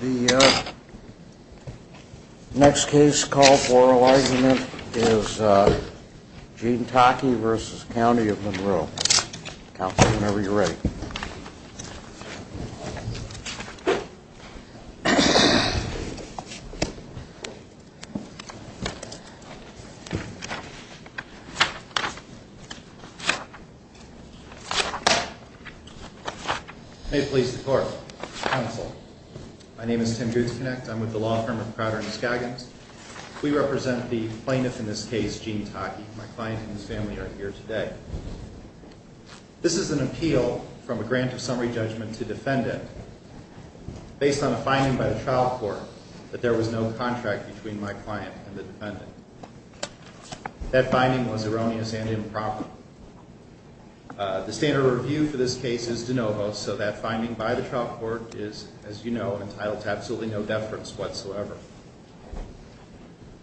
The next case call for argument is Gene Taake v. The County of Monroe. Counsel, whenever you're ready. May it please the court. Counsel, my name is Tim Gutzknecht. I'm with the law firm of Crowder and Scoggins. We represent the plaintiff in this case, Gene Taake. My client and his family are here today. This is an appeal from a grant of summary judgment to defendant based on a finding by the trial court that there was no contract between my client and the defendant. That finding was erroneous and improper. The standard review for this case is de novo, so that finding by the trial court is, as you know, entitled to absolutely no deference whatsoever.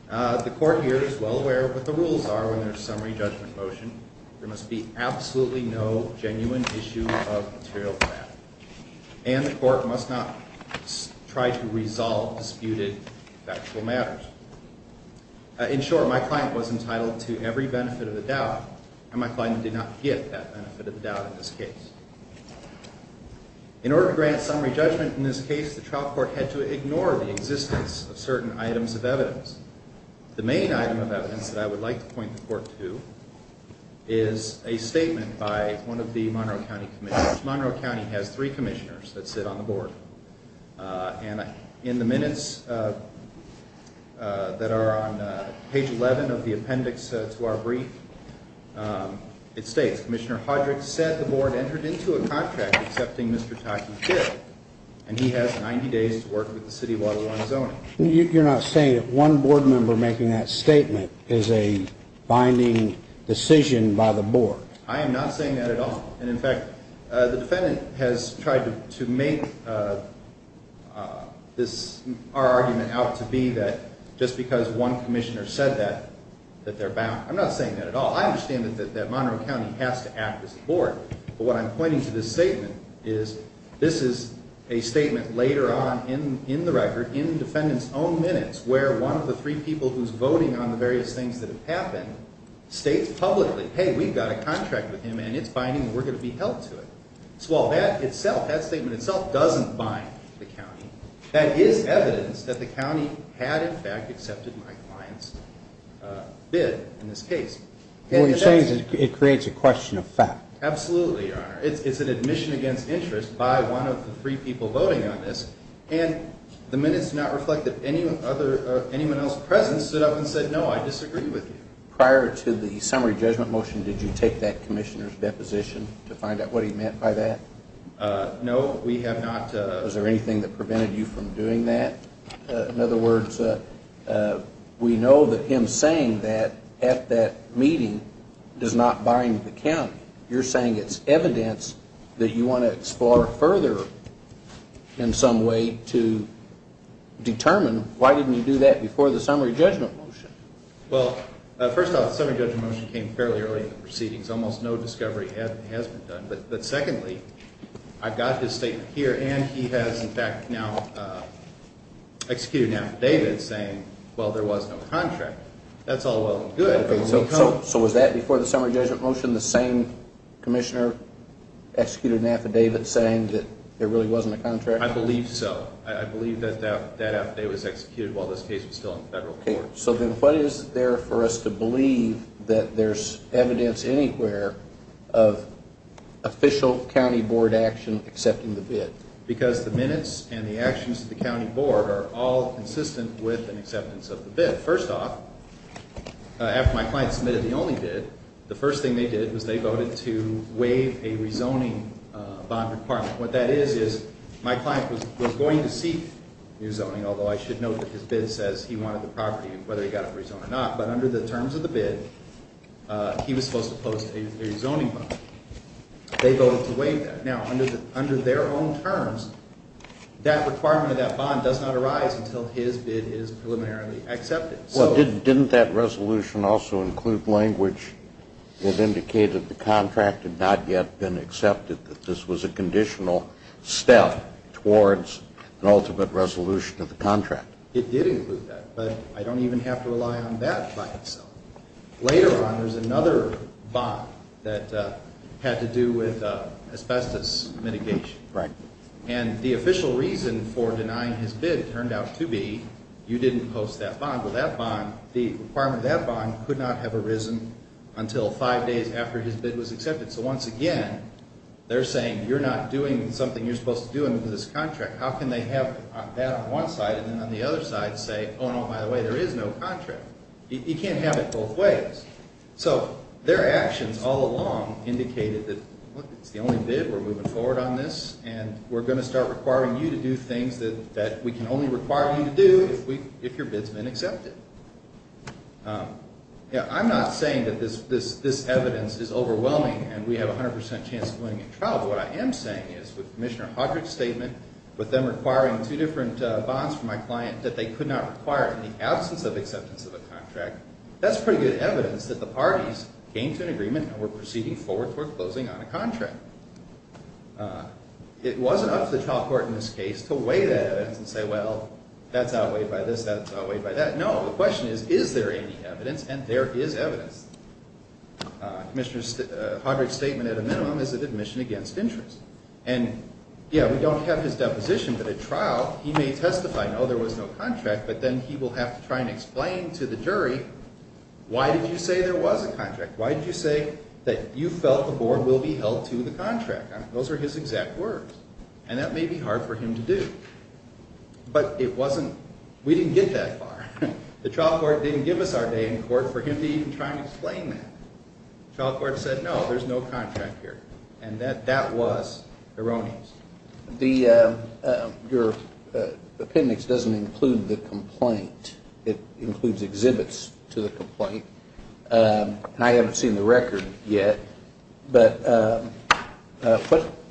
The court here is well aware of what the rules are when there's summary judgment motion. There must be absolutely no genuine issue of material fact. And the court must not try to resolve disputed factual matters. In short, my client was entitled to every benefit of the doubt, and my client did not get that benefit of the doubt in this case. In order to grant summary judgment in this case, the trial court had to ignore the existence of certain items of evidence. The main item of evidence that I would like to point the court to is a statement by one of the Monroe County commissioners. Monroe County has three commissioners that sit on the board. And in the minutes that are on page 11 of the appendix to our brief, it states, Commissioner Hodrick said the board entered into a contract accepting Mr. Taki here, and he has 90 days to work with the city of Waterloo on zoning. You're not saying that one board member making that statement is a binding decision by the board? I am not saying that at all. And in fact, the defendant has tried to make our argument out to be that just because one commissioner said that, that they're bound. I'm not saying that at all. I understand that Monroe County has to act as a board, but what I'm pointing to this statement is, this is a statement later on in the record, in the defendant's own minutes, where one of the three people who's voting on the various things that have happened states publicly, hey, we've got a contract with him and it's binding and we're going to be held to it. So while that statement itself doesn't bind the county, that is evidence that the county had in fact accepted my client's bid in this case. What you're saying is it creates a question of fact. Absolutely, Your Honor. It's an admission against interest by one of the three people voting on this, and the minutes do not reflect that anyone else present stood up and said, no, I disagree with you. Prior to the summary judgment motion, did you take that commissioner's deposition to find out what he meant by that? No, we have not. Was there anything that prevented you from doing that? In other words, we know that him saying that at that meeting does not bind the county. You're saying it's evidence that you want to explore further in some way to determine why didn't he do that before the summary judgment motion? Well, first off, the summary judgment motion came fairly early in the proceedings. Almost no discovery has been done. But secondly, I've got his statement here, and he has in fact now executed an affidavit saying, well, there was no contract. That's all well and good. So was that before the summary judgment motion, the same commissioner executed an affidavit saying that there really wasn't a contract? I believe so. I believe that that affidavit was executed while this case was still in federal court. So then what is there for us to believe that there's evidence anywhere of official county board action accepting the bid? Because the minutes and the actions of the county board are all consistent with an acceptance of the bid. First off, after my client submitted the only bid, the first thing they did was they voted to waive a rezoning bond requirement. What that is, is my client was going to seek rezoning, although I should note that his bid says he wanted the property, whether he got it rezoned or not. But under the terms of the bid, he was supposed to post a rezoning bond. They voted to waive that. Now, under their own terms, that requirement of that bond does not arise until his bid is preliminarily accepted. Well, didn't that resolution also include language that indicated the contract had not yet been accepted, that this was a conditional step towards an ultimate resolution of the contract? It did include that, but I don't even have to rely on that by itself. Later on, there's another bond that had to do with asbestos mitigation. And the official reason for denying his bid turned out to be you didn't post that bond. Well, the requirement of that bond could not have arisen until five days after his bid was accepted. So once again, they're saying you're not doing something you're supposed to do under this contract. How can they have that on one side and then on the other side say, oh, no, by the way, there is no contract? You can't have it both ways. So their actions all along indicated that, look, it's the only bid, we're moving forward on this, and we're going to start requiring you to do things that we can only require you to do if your bid's been accepted. Now, I'm not saying that this evidence is overwhelming and we have a 100 percent chance of winning a trial, but what I am saying is with Commissioner Hodrick's statement, with them requiring two different bonds from my client that they could not require in the absence of acceptance of a contract, that's pretty good evidence that the parties came to an agreement and were proceeding forward toward closing on a contract. It wasn't up to the trial court in this case to weigh that evidence and say, well, that's outweighed by this, that's outweighed by that. No, the question is, is there any evidence? And there is evidence. Commissioner Hodrick's statement at a minimum is an admission against interest. And, yeah, we don't have his deposition, but at trial he may testify, no, there was no contract, but then he will have to try and explain to the jury, why did you say there was a contract? Why did you say that you felt the board will be held to the contract? Those are his exact words, and that may be hard for him to do. But it wasn't, we didn't get that far. The trial court didn't give us our day in court for him to even try and explain that. The trial court said, no, there's no contract here, and that was erroneous. Your appendix doesn't include the complaint. It includes exhibits to the complaint. And I haven't seen the record yet. But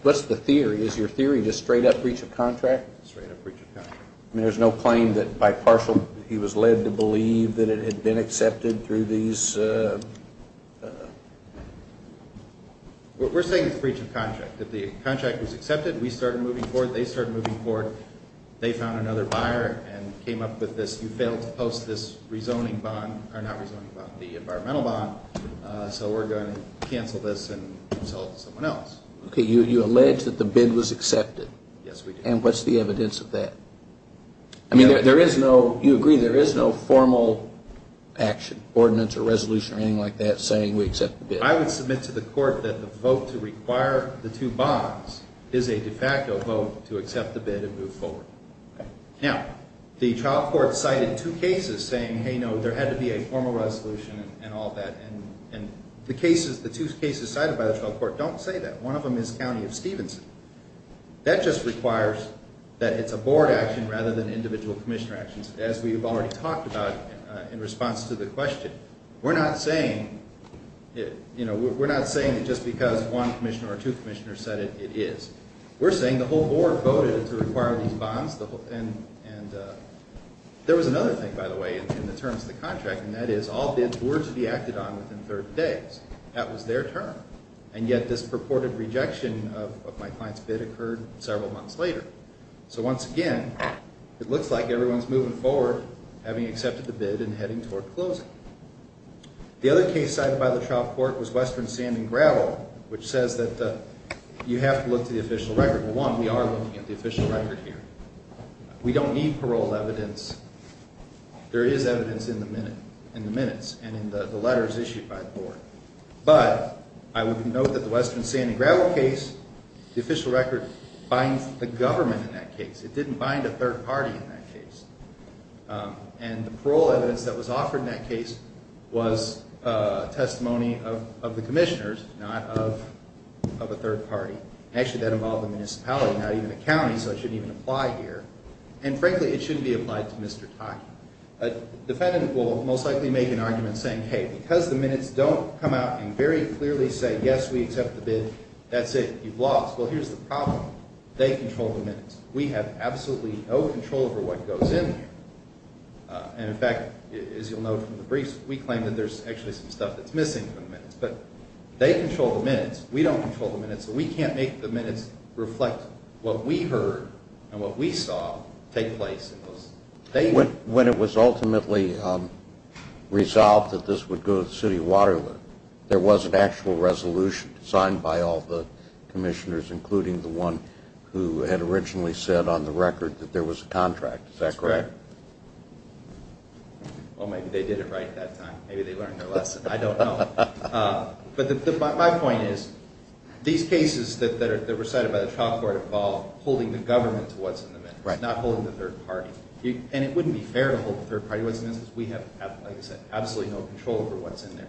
what's the theory? Is your theory just straight-up breach of contract? Straight-up breach of contract. I mean, there's no claim that by partial he was led to believe that it had been accepted through these? We're saying it's a breach of contract. If the contract was accepted, we started moving forward, they started moving forward, they found another buyer and came up with this, you failed to post this rezoning bond, or not rezoning bond, the environmental bond, so we're going to cancel this and sell it to someone else. Okay, you allege that the bid was accepted. Yes, we did. And what's the evidence of that? I mean, there is no, you agree, there is no formal action, ordinance or resolution, or anything like that saying we accept the bid. I would submit to the court that the vote to require the two bonds is a de facto vote to accept the bid and move forward. Now, the trial court cited two cases saying, hey, no, there had to be a formal resolution and all that, and the two cases cited by the trial court don't say that. One of them is County of Stevenson. That just requires that it's a board action rather than individual commissioner actions, as we've already talked about in response to the question. We're not saying, you know, we're not saying that just because one commissioner or two commissioners said it, it is. We're saying the whole board voted to require these bonds, and there was another thing, by the way, in the terms of the contract, and that is all bids were to be acted on within 30 days. That was their term. And yet this purported rejection of my client's bid occurred several months later. So once again, it looks like everyone's moving forward, having accepted the bid and heading toward closing. The other case cited by the trial court was Western Sand and Gravel, which says that you have to look to the official record. Well, one, we are looking at the official record here. We don't need parole evidence. There is evidence in the minutes and in the letters issued by the board. But I would note that the Western Sand and Gravel case, the official record binds the government in that case. It didn't bind a third party in that case. And the parole evidence that was offered in that case was testimony of the commissioners, not of a third party. Actually, that involved a municipality, not even a county, so it shouldn't even apply here. And frankly, it shouldn't be applied to Mr. Taki. A defendant will most likely make an argument saying, hey, because the minutes don't come out and very clearly say, yes, we accept the bid, that's it, you've lost. Well, here's the problem. They control the minutes. We have absolutely no control over what goes in there. And, in fact, as you'll note from the briefs, we claim that there's actually some stuff that's missing from the minutes. But they control the minutes. We don't control the minutes. So we can't make the minutes reflect what we heard and what we saw take place. When it was ultimately resolved that this would go to the city of Waterloo, there was an actual resolution signed by all the commissioners, including the one who had originally said on the record that there was a contract, is that correct? That's correct. Well, maybe they did it right that time. Maybe they learned their lesson. I don't know. But my point is, these cases that were cited by the trial court involved holding the government to what's in the minutes, not holding the third party. And it wouldn't be fair to hold the third party to what's in the minutes because we have, like I said, absolutely no control over what's in there.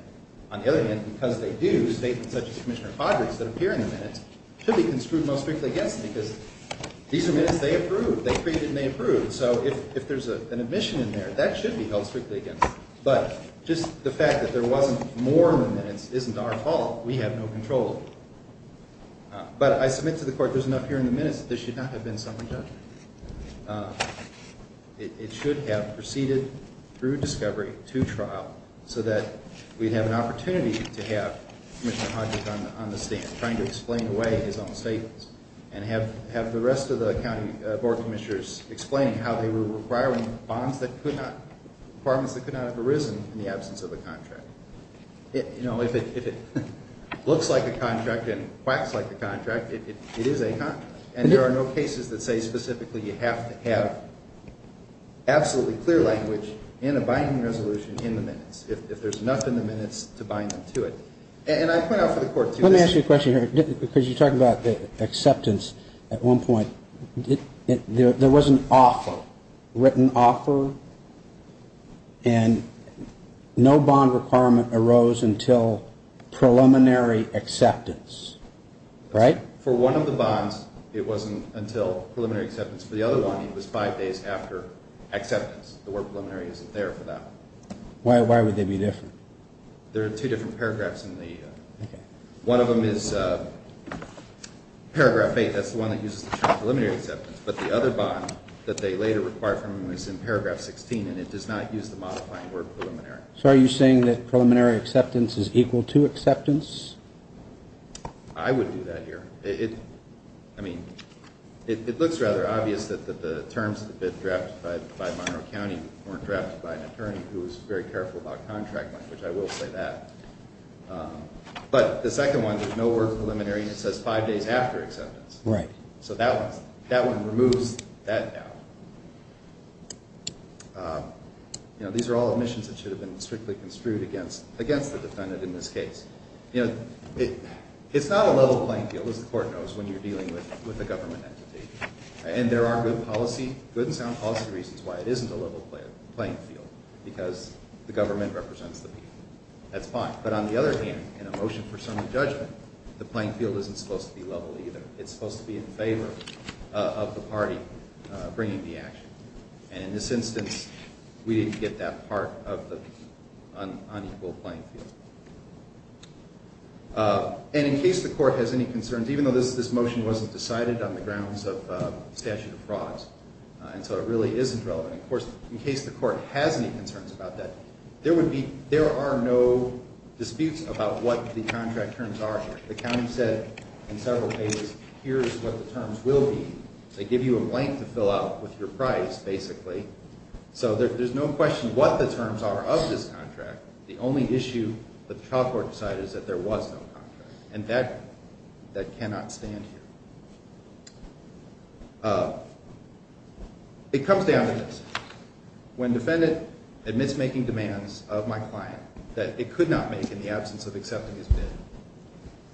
On the other hand, because they do, statements such as Commissioner Fodry's that appear in the minutes should be construed most strictly against them because these are minutes they approved. They created and they approved. So if there's an admission in there, that should be held strictly against it. But just the fact that there wasn't more in the minutes isn't our fault. We have no control. But I submit to the court there's enough here in the minutes that there should not have been something done. It should have proceeded through discovery to trial so that we'd have an opportunity to have Commissioner Hodgkin on the stand trying to explain away his own statements and have the rest of the county board commissioners explain how they were requiring bonds that could not, requirements that could not have arisen in the absence of a contract. You know, if it looks like a contract and quacks like a contract, it is a contract. And there are no cases that say specifically you have to have absolutely clear language in a binding resolution in the minutes, if there's enough in the minutes to bind them to it. And I point out for the court to this. Let me ask you a question here because you talked about the acceptance at one point. There was an offer, written offer, and no bond requirement arose until preliminary acceptance, right? For one of the bonds, it wasn't until preliminary acceptance. For the other one, it was five days after acceptance. The word preliminary isn't there for that. Why would they be different? There are two different paragraphs in the, one of them is paragraph eight. That's the one that uses the term preliminary acceptance. But the other bond that they later require from them is in paragraph 16, and it does not use the modifying word preliminary. So are you saying that preliminary acceptance is equal to acceptance? I would do that here. It, I mean, it looks rather obvious that the terms of the bid drafted by Monroe County weren't drafted by an attorney who was very careful about contract language. I will say that. But the second one, there's no word preliminary, and it says five days after acceptance. Right. So that one, that one removes that doubt. You know, these are all admissions that should have been strictly construed against the defendant in this case. You know, it's not a level playing field, as the court knows, when you're dealing with a government entity. And there are good policy, good and sound policy reasons why it isn't a level playing field, because the government represents the people. That's fine. But on the other hand, in a motion for sermon judgment, the playing field isn't supposed to be level either. It's supposed to be in favor of the party bringing the action. And in this instance, we didn't get that part of the unequal playing field. And in case the court has any concerns, even though this motion wasn't decided on the grounds of statute of frauds, and so it really isn't relevant, of course, in case the court has any concerns about that, there are no disputes about what the contract terms are. The county said in several cases, here's what the terms will be. They give you a blank to fill out with your price, basically. So there's no question what the terms are of this contract. The only issue that the trial court decided is that there was no contract. And that cannot stand here. It comes down to this. When defendant admits making demands of my client that it could not make in the absence of accepting his bid,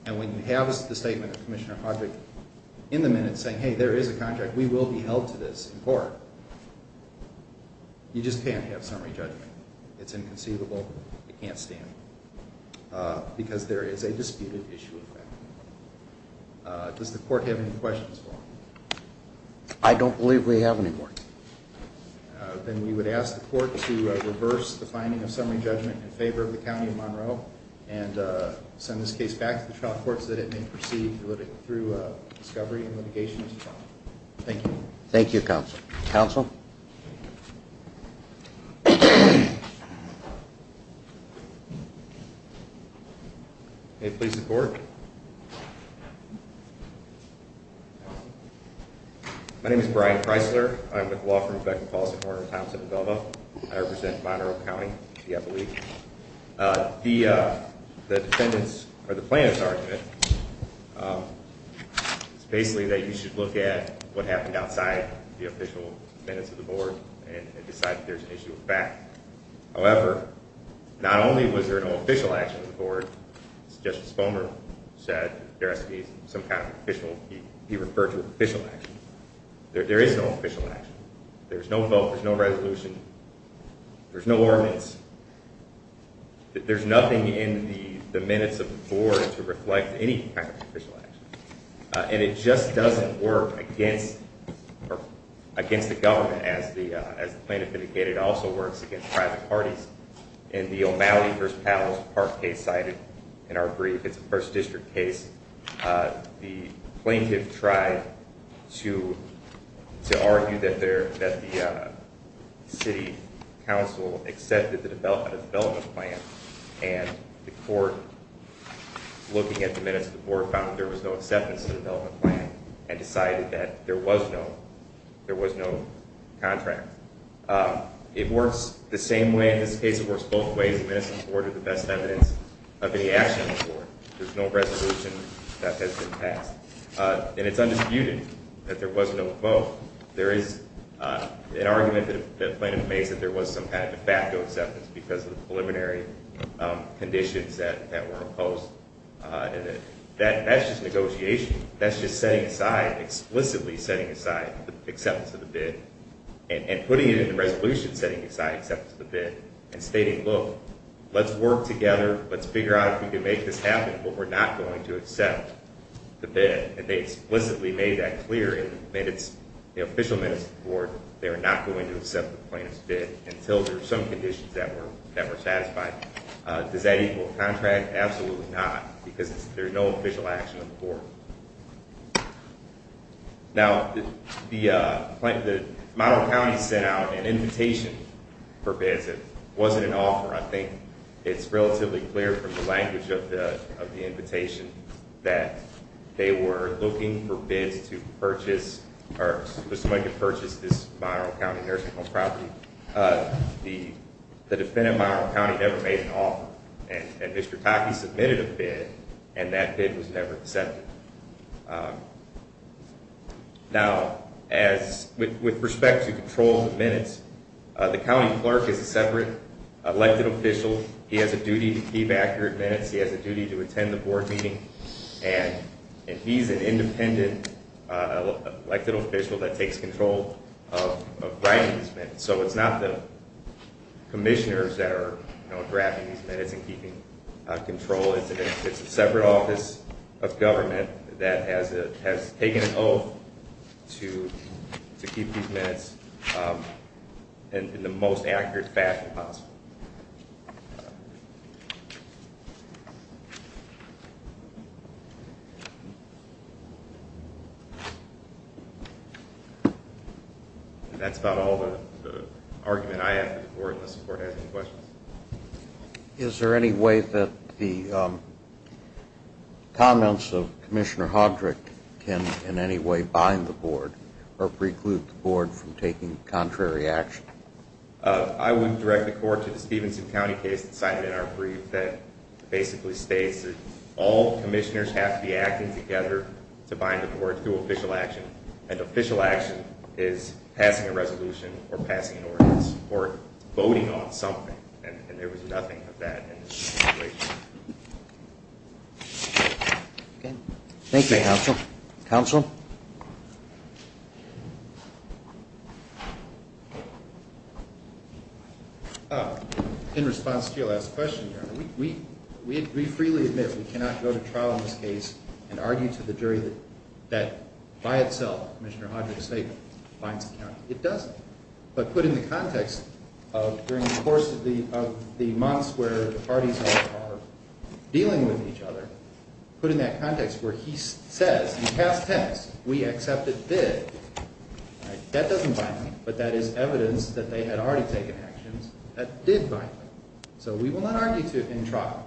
and when you have the statement of Commissioner Hodrick in the minutes saying, hey, there is a contract, we will be held to this in court, you just can't have summary judgment. It's inconceivable. It can't stand because there is a disputed issue of that. Does the court have any questions for me? I don't believe we have any more. Then we would ask the court to reverse the finding of summary judgment in favor of the County of Monroe and send this case back to the trial court so that it may proceed through discovery and litigation. Thank you. Thank you, Counsel. Counsel? May it please the Court. My name is Brian Chrysler. I'm with the law firm of Beckman, Paulson, Horner, Thompson, and Velma. I represent Monroe County, the upper league. The defendant's, or the plaintiff's, argument is basically that you should look at what happened outside the official minutes of the board and decide if there is an issue with that. However, not only was there no official action of the board, as Justice Fulmer said, there has to be some kind of official, be referred to as official action. There is no official action. There's no vote. There's no resolution. There's no ordinance. There's nothing in the minutes of the board to reflect any kind of official action. And it just doesn't work against the government, as the plaintiff indicated. It also works against private parties. In the O'Malley v. Powell's Park case cited in our brief, it's a 1st District case, the plaintiff tried to argue that the city council accepted the development plan, and the court, looking at the minutes of the board, found that there was no acceptance of the development plan and decided that there was no contract. It works the same way in this case. It works both ways. The minutes of the board are the best evidence of any action on the board. There's no resolution that has been passed. And it's undisputed that there was no vote. There is an argument that the plaintiff makes that there was some kind of de facto acceptance because of the preliminary conditions that were imposed. That's just negotiation. That's just setting aside, explicitly setting aside the acceptance of the bid and putting it in the resolution setting aside acceptance of the bid and stating, look, let's work together, let's figure out if we can make this happen, but we're not going to accept the bid. And they explicitly made that clear in the official minutes of the board. They were not going to accept the plaintiff's bid until there were some conditions that were satisfied. Does that equal contract? Absolutely not, because there's no official action on the board. Now, the Monroe County sent out an invitation for bids. It wasn't an offer. I think it's relatively clear from the language of the invitation that they were looking for bids to purchase or for somebody to purchase this Monroe County nursing home property. The defendant, Monroe County, never made an offer. And Mr. Taki submitted a bid, and that bid was never accepted. Now, with respect to control of the minutes, the county clerk is a separate elected official. He has a duty to be back here at minutes. He has a duty to attend the board meeting. And he's an independent elected official that takes control of writing these minutes. So it's not the commissioners that are, you know, drafting these minutes and keeping control. It's a separate office of government that has taken an oath to keep these minutes in the most accurate fashion possible. That's about all the argument I have for the board, unless the board has any questions. Is there any way that the comments of Commissioner Hodrick can in any way bind the board or preclude the board from taking contrary action? I would direct the court to the Stevenson County case that's cited in our brief that basically states that all commissioners have to be acting together to bind the board to official action, and official action is passing a resolution or passing an ordinance or voting on something. And there was nothing of that in this situation. Thank you, Counsel. Counsel? In response to your last question, Your Honor, we freely admit we cannot go to trial in this case and argue to the jury that by itself Commissioner Hodrick's statement binds the county. It doesn't. But put in the context of during the course of the months where the parties are dealing with each other, put in that context where he says in past tense, we accept it did, that doesn't bind me. But that is evidence that they had already taken actions that did bind me. So we will not argue in trial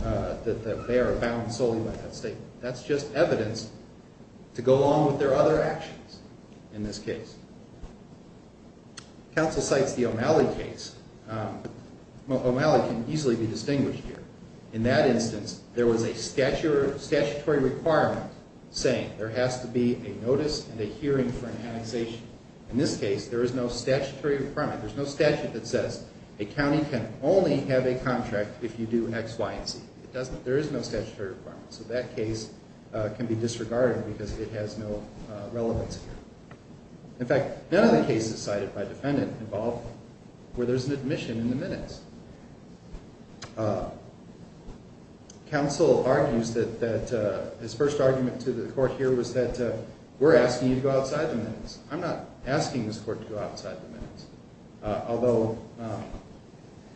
that they are bound solely by that statement. That's just evidence to go along with their other actions in this case. Counsel cites the O'Malley case. O'Malley can easily be distinguished here. In that instance, there was a statutory requirement saying there has to be a notice and a hearing for an annexation. In this case, there is no statutory requirement. There's no statute that says a county can only have a contract if you do X, Y, and Z. There is no statutory requirement. So that case can be disregarded because it has no relevance here. In fact, none of the cases cited by the defendant involve where there's an admission in the minutes. Counsel argues that his first argument to the court here was that we're asking you to go outside the minutes. I'm not asking this court to go outside the minutes. Although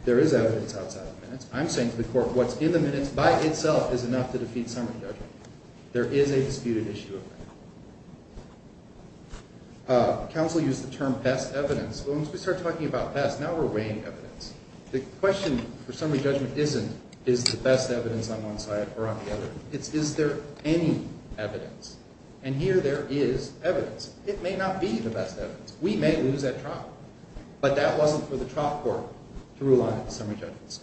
there is evidence outside the minutes, I'm saying to the court what's in the minutes by itself is enough to defeat summary judgment. There is a disputed issue of that. Counsel used the term past evidence. Well, once we start talking about past, now we're weighing evidence. The question for summary judgment isn't, is the best evidence on one side or on the other? It's, is there any evidence? And here there is evidence. It may not be the best evidence. We may lose that trial. But that wasn't for the trial court to rule on in the summary judgment.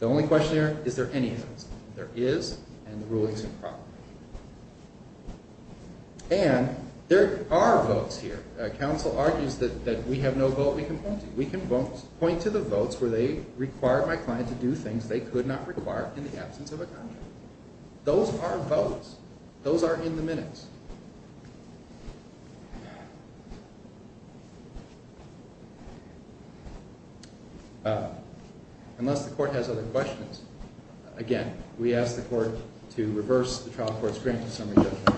The only question here, is there any evidence? There is, and the ruling is improper. And there are votes here. Counsel argues that we have no vote we can point to. We can point to the votes where they require my client to do things they could not require in the absence of a contract. Those are votes. Those are in the minutes. Unless the court has other questions, again, we ask the court to reverse the trial court's grant to summary judgment.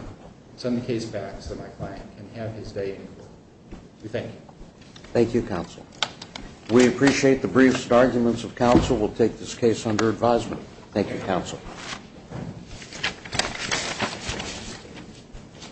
Send the case back so my client can have his day in court. We thank you. Thank you, counsel. We appreciate the brief arguments of counsel. Thank you, counsel. Thank you.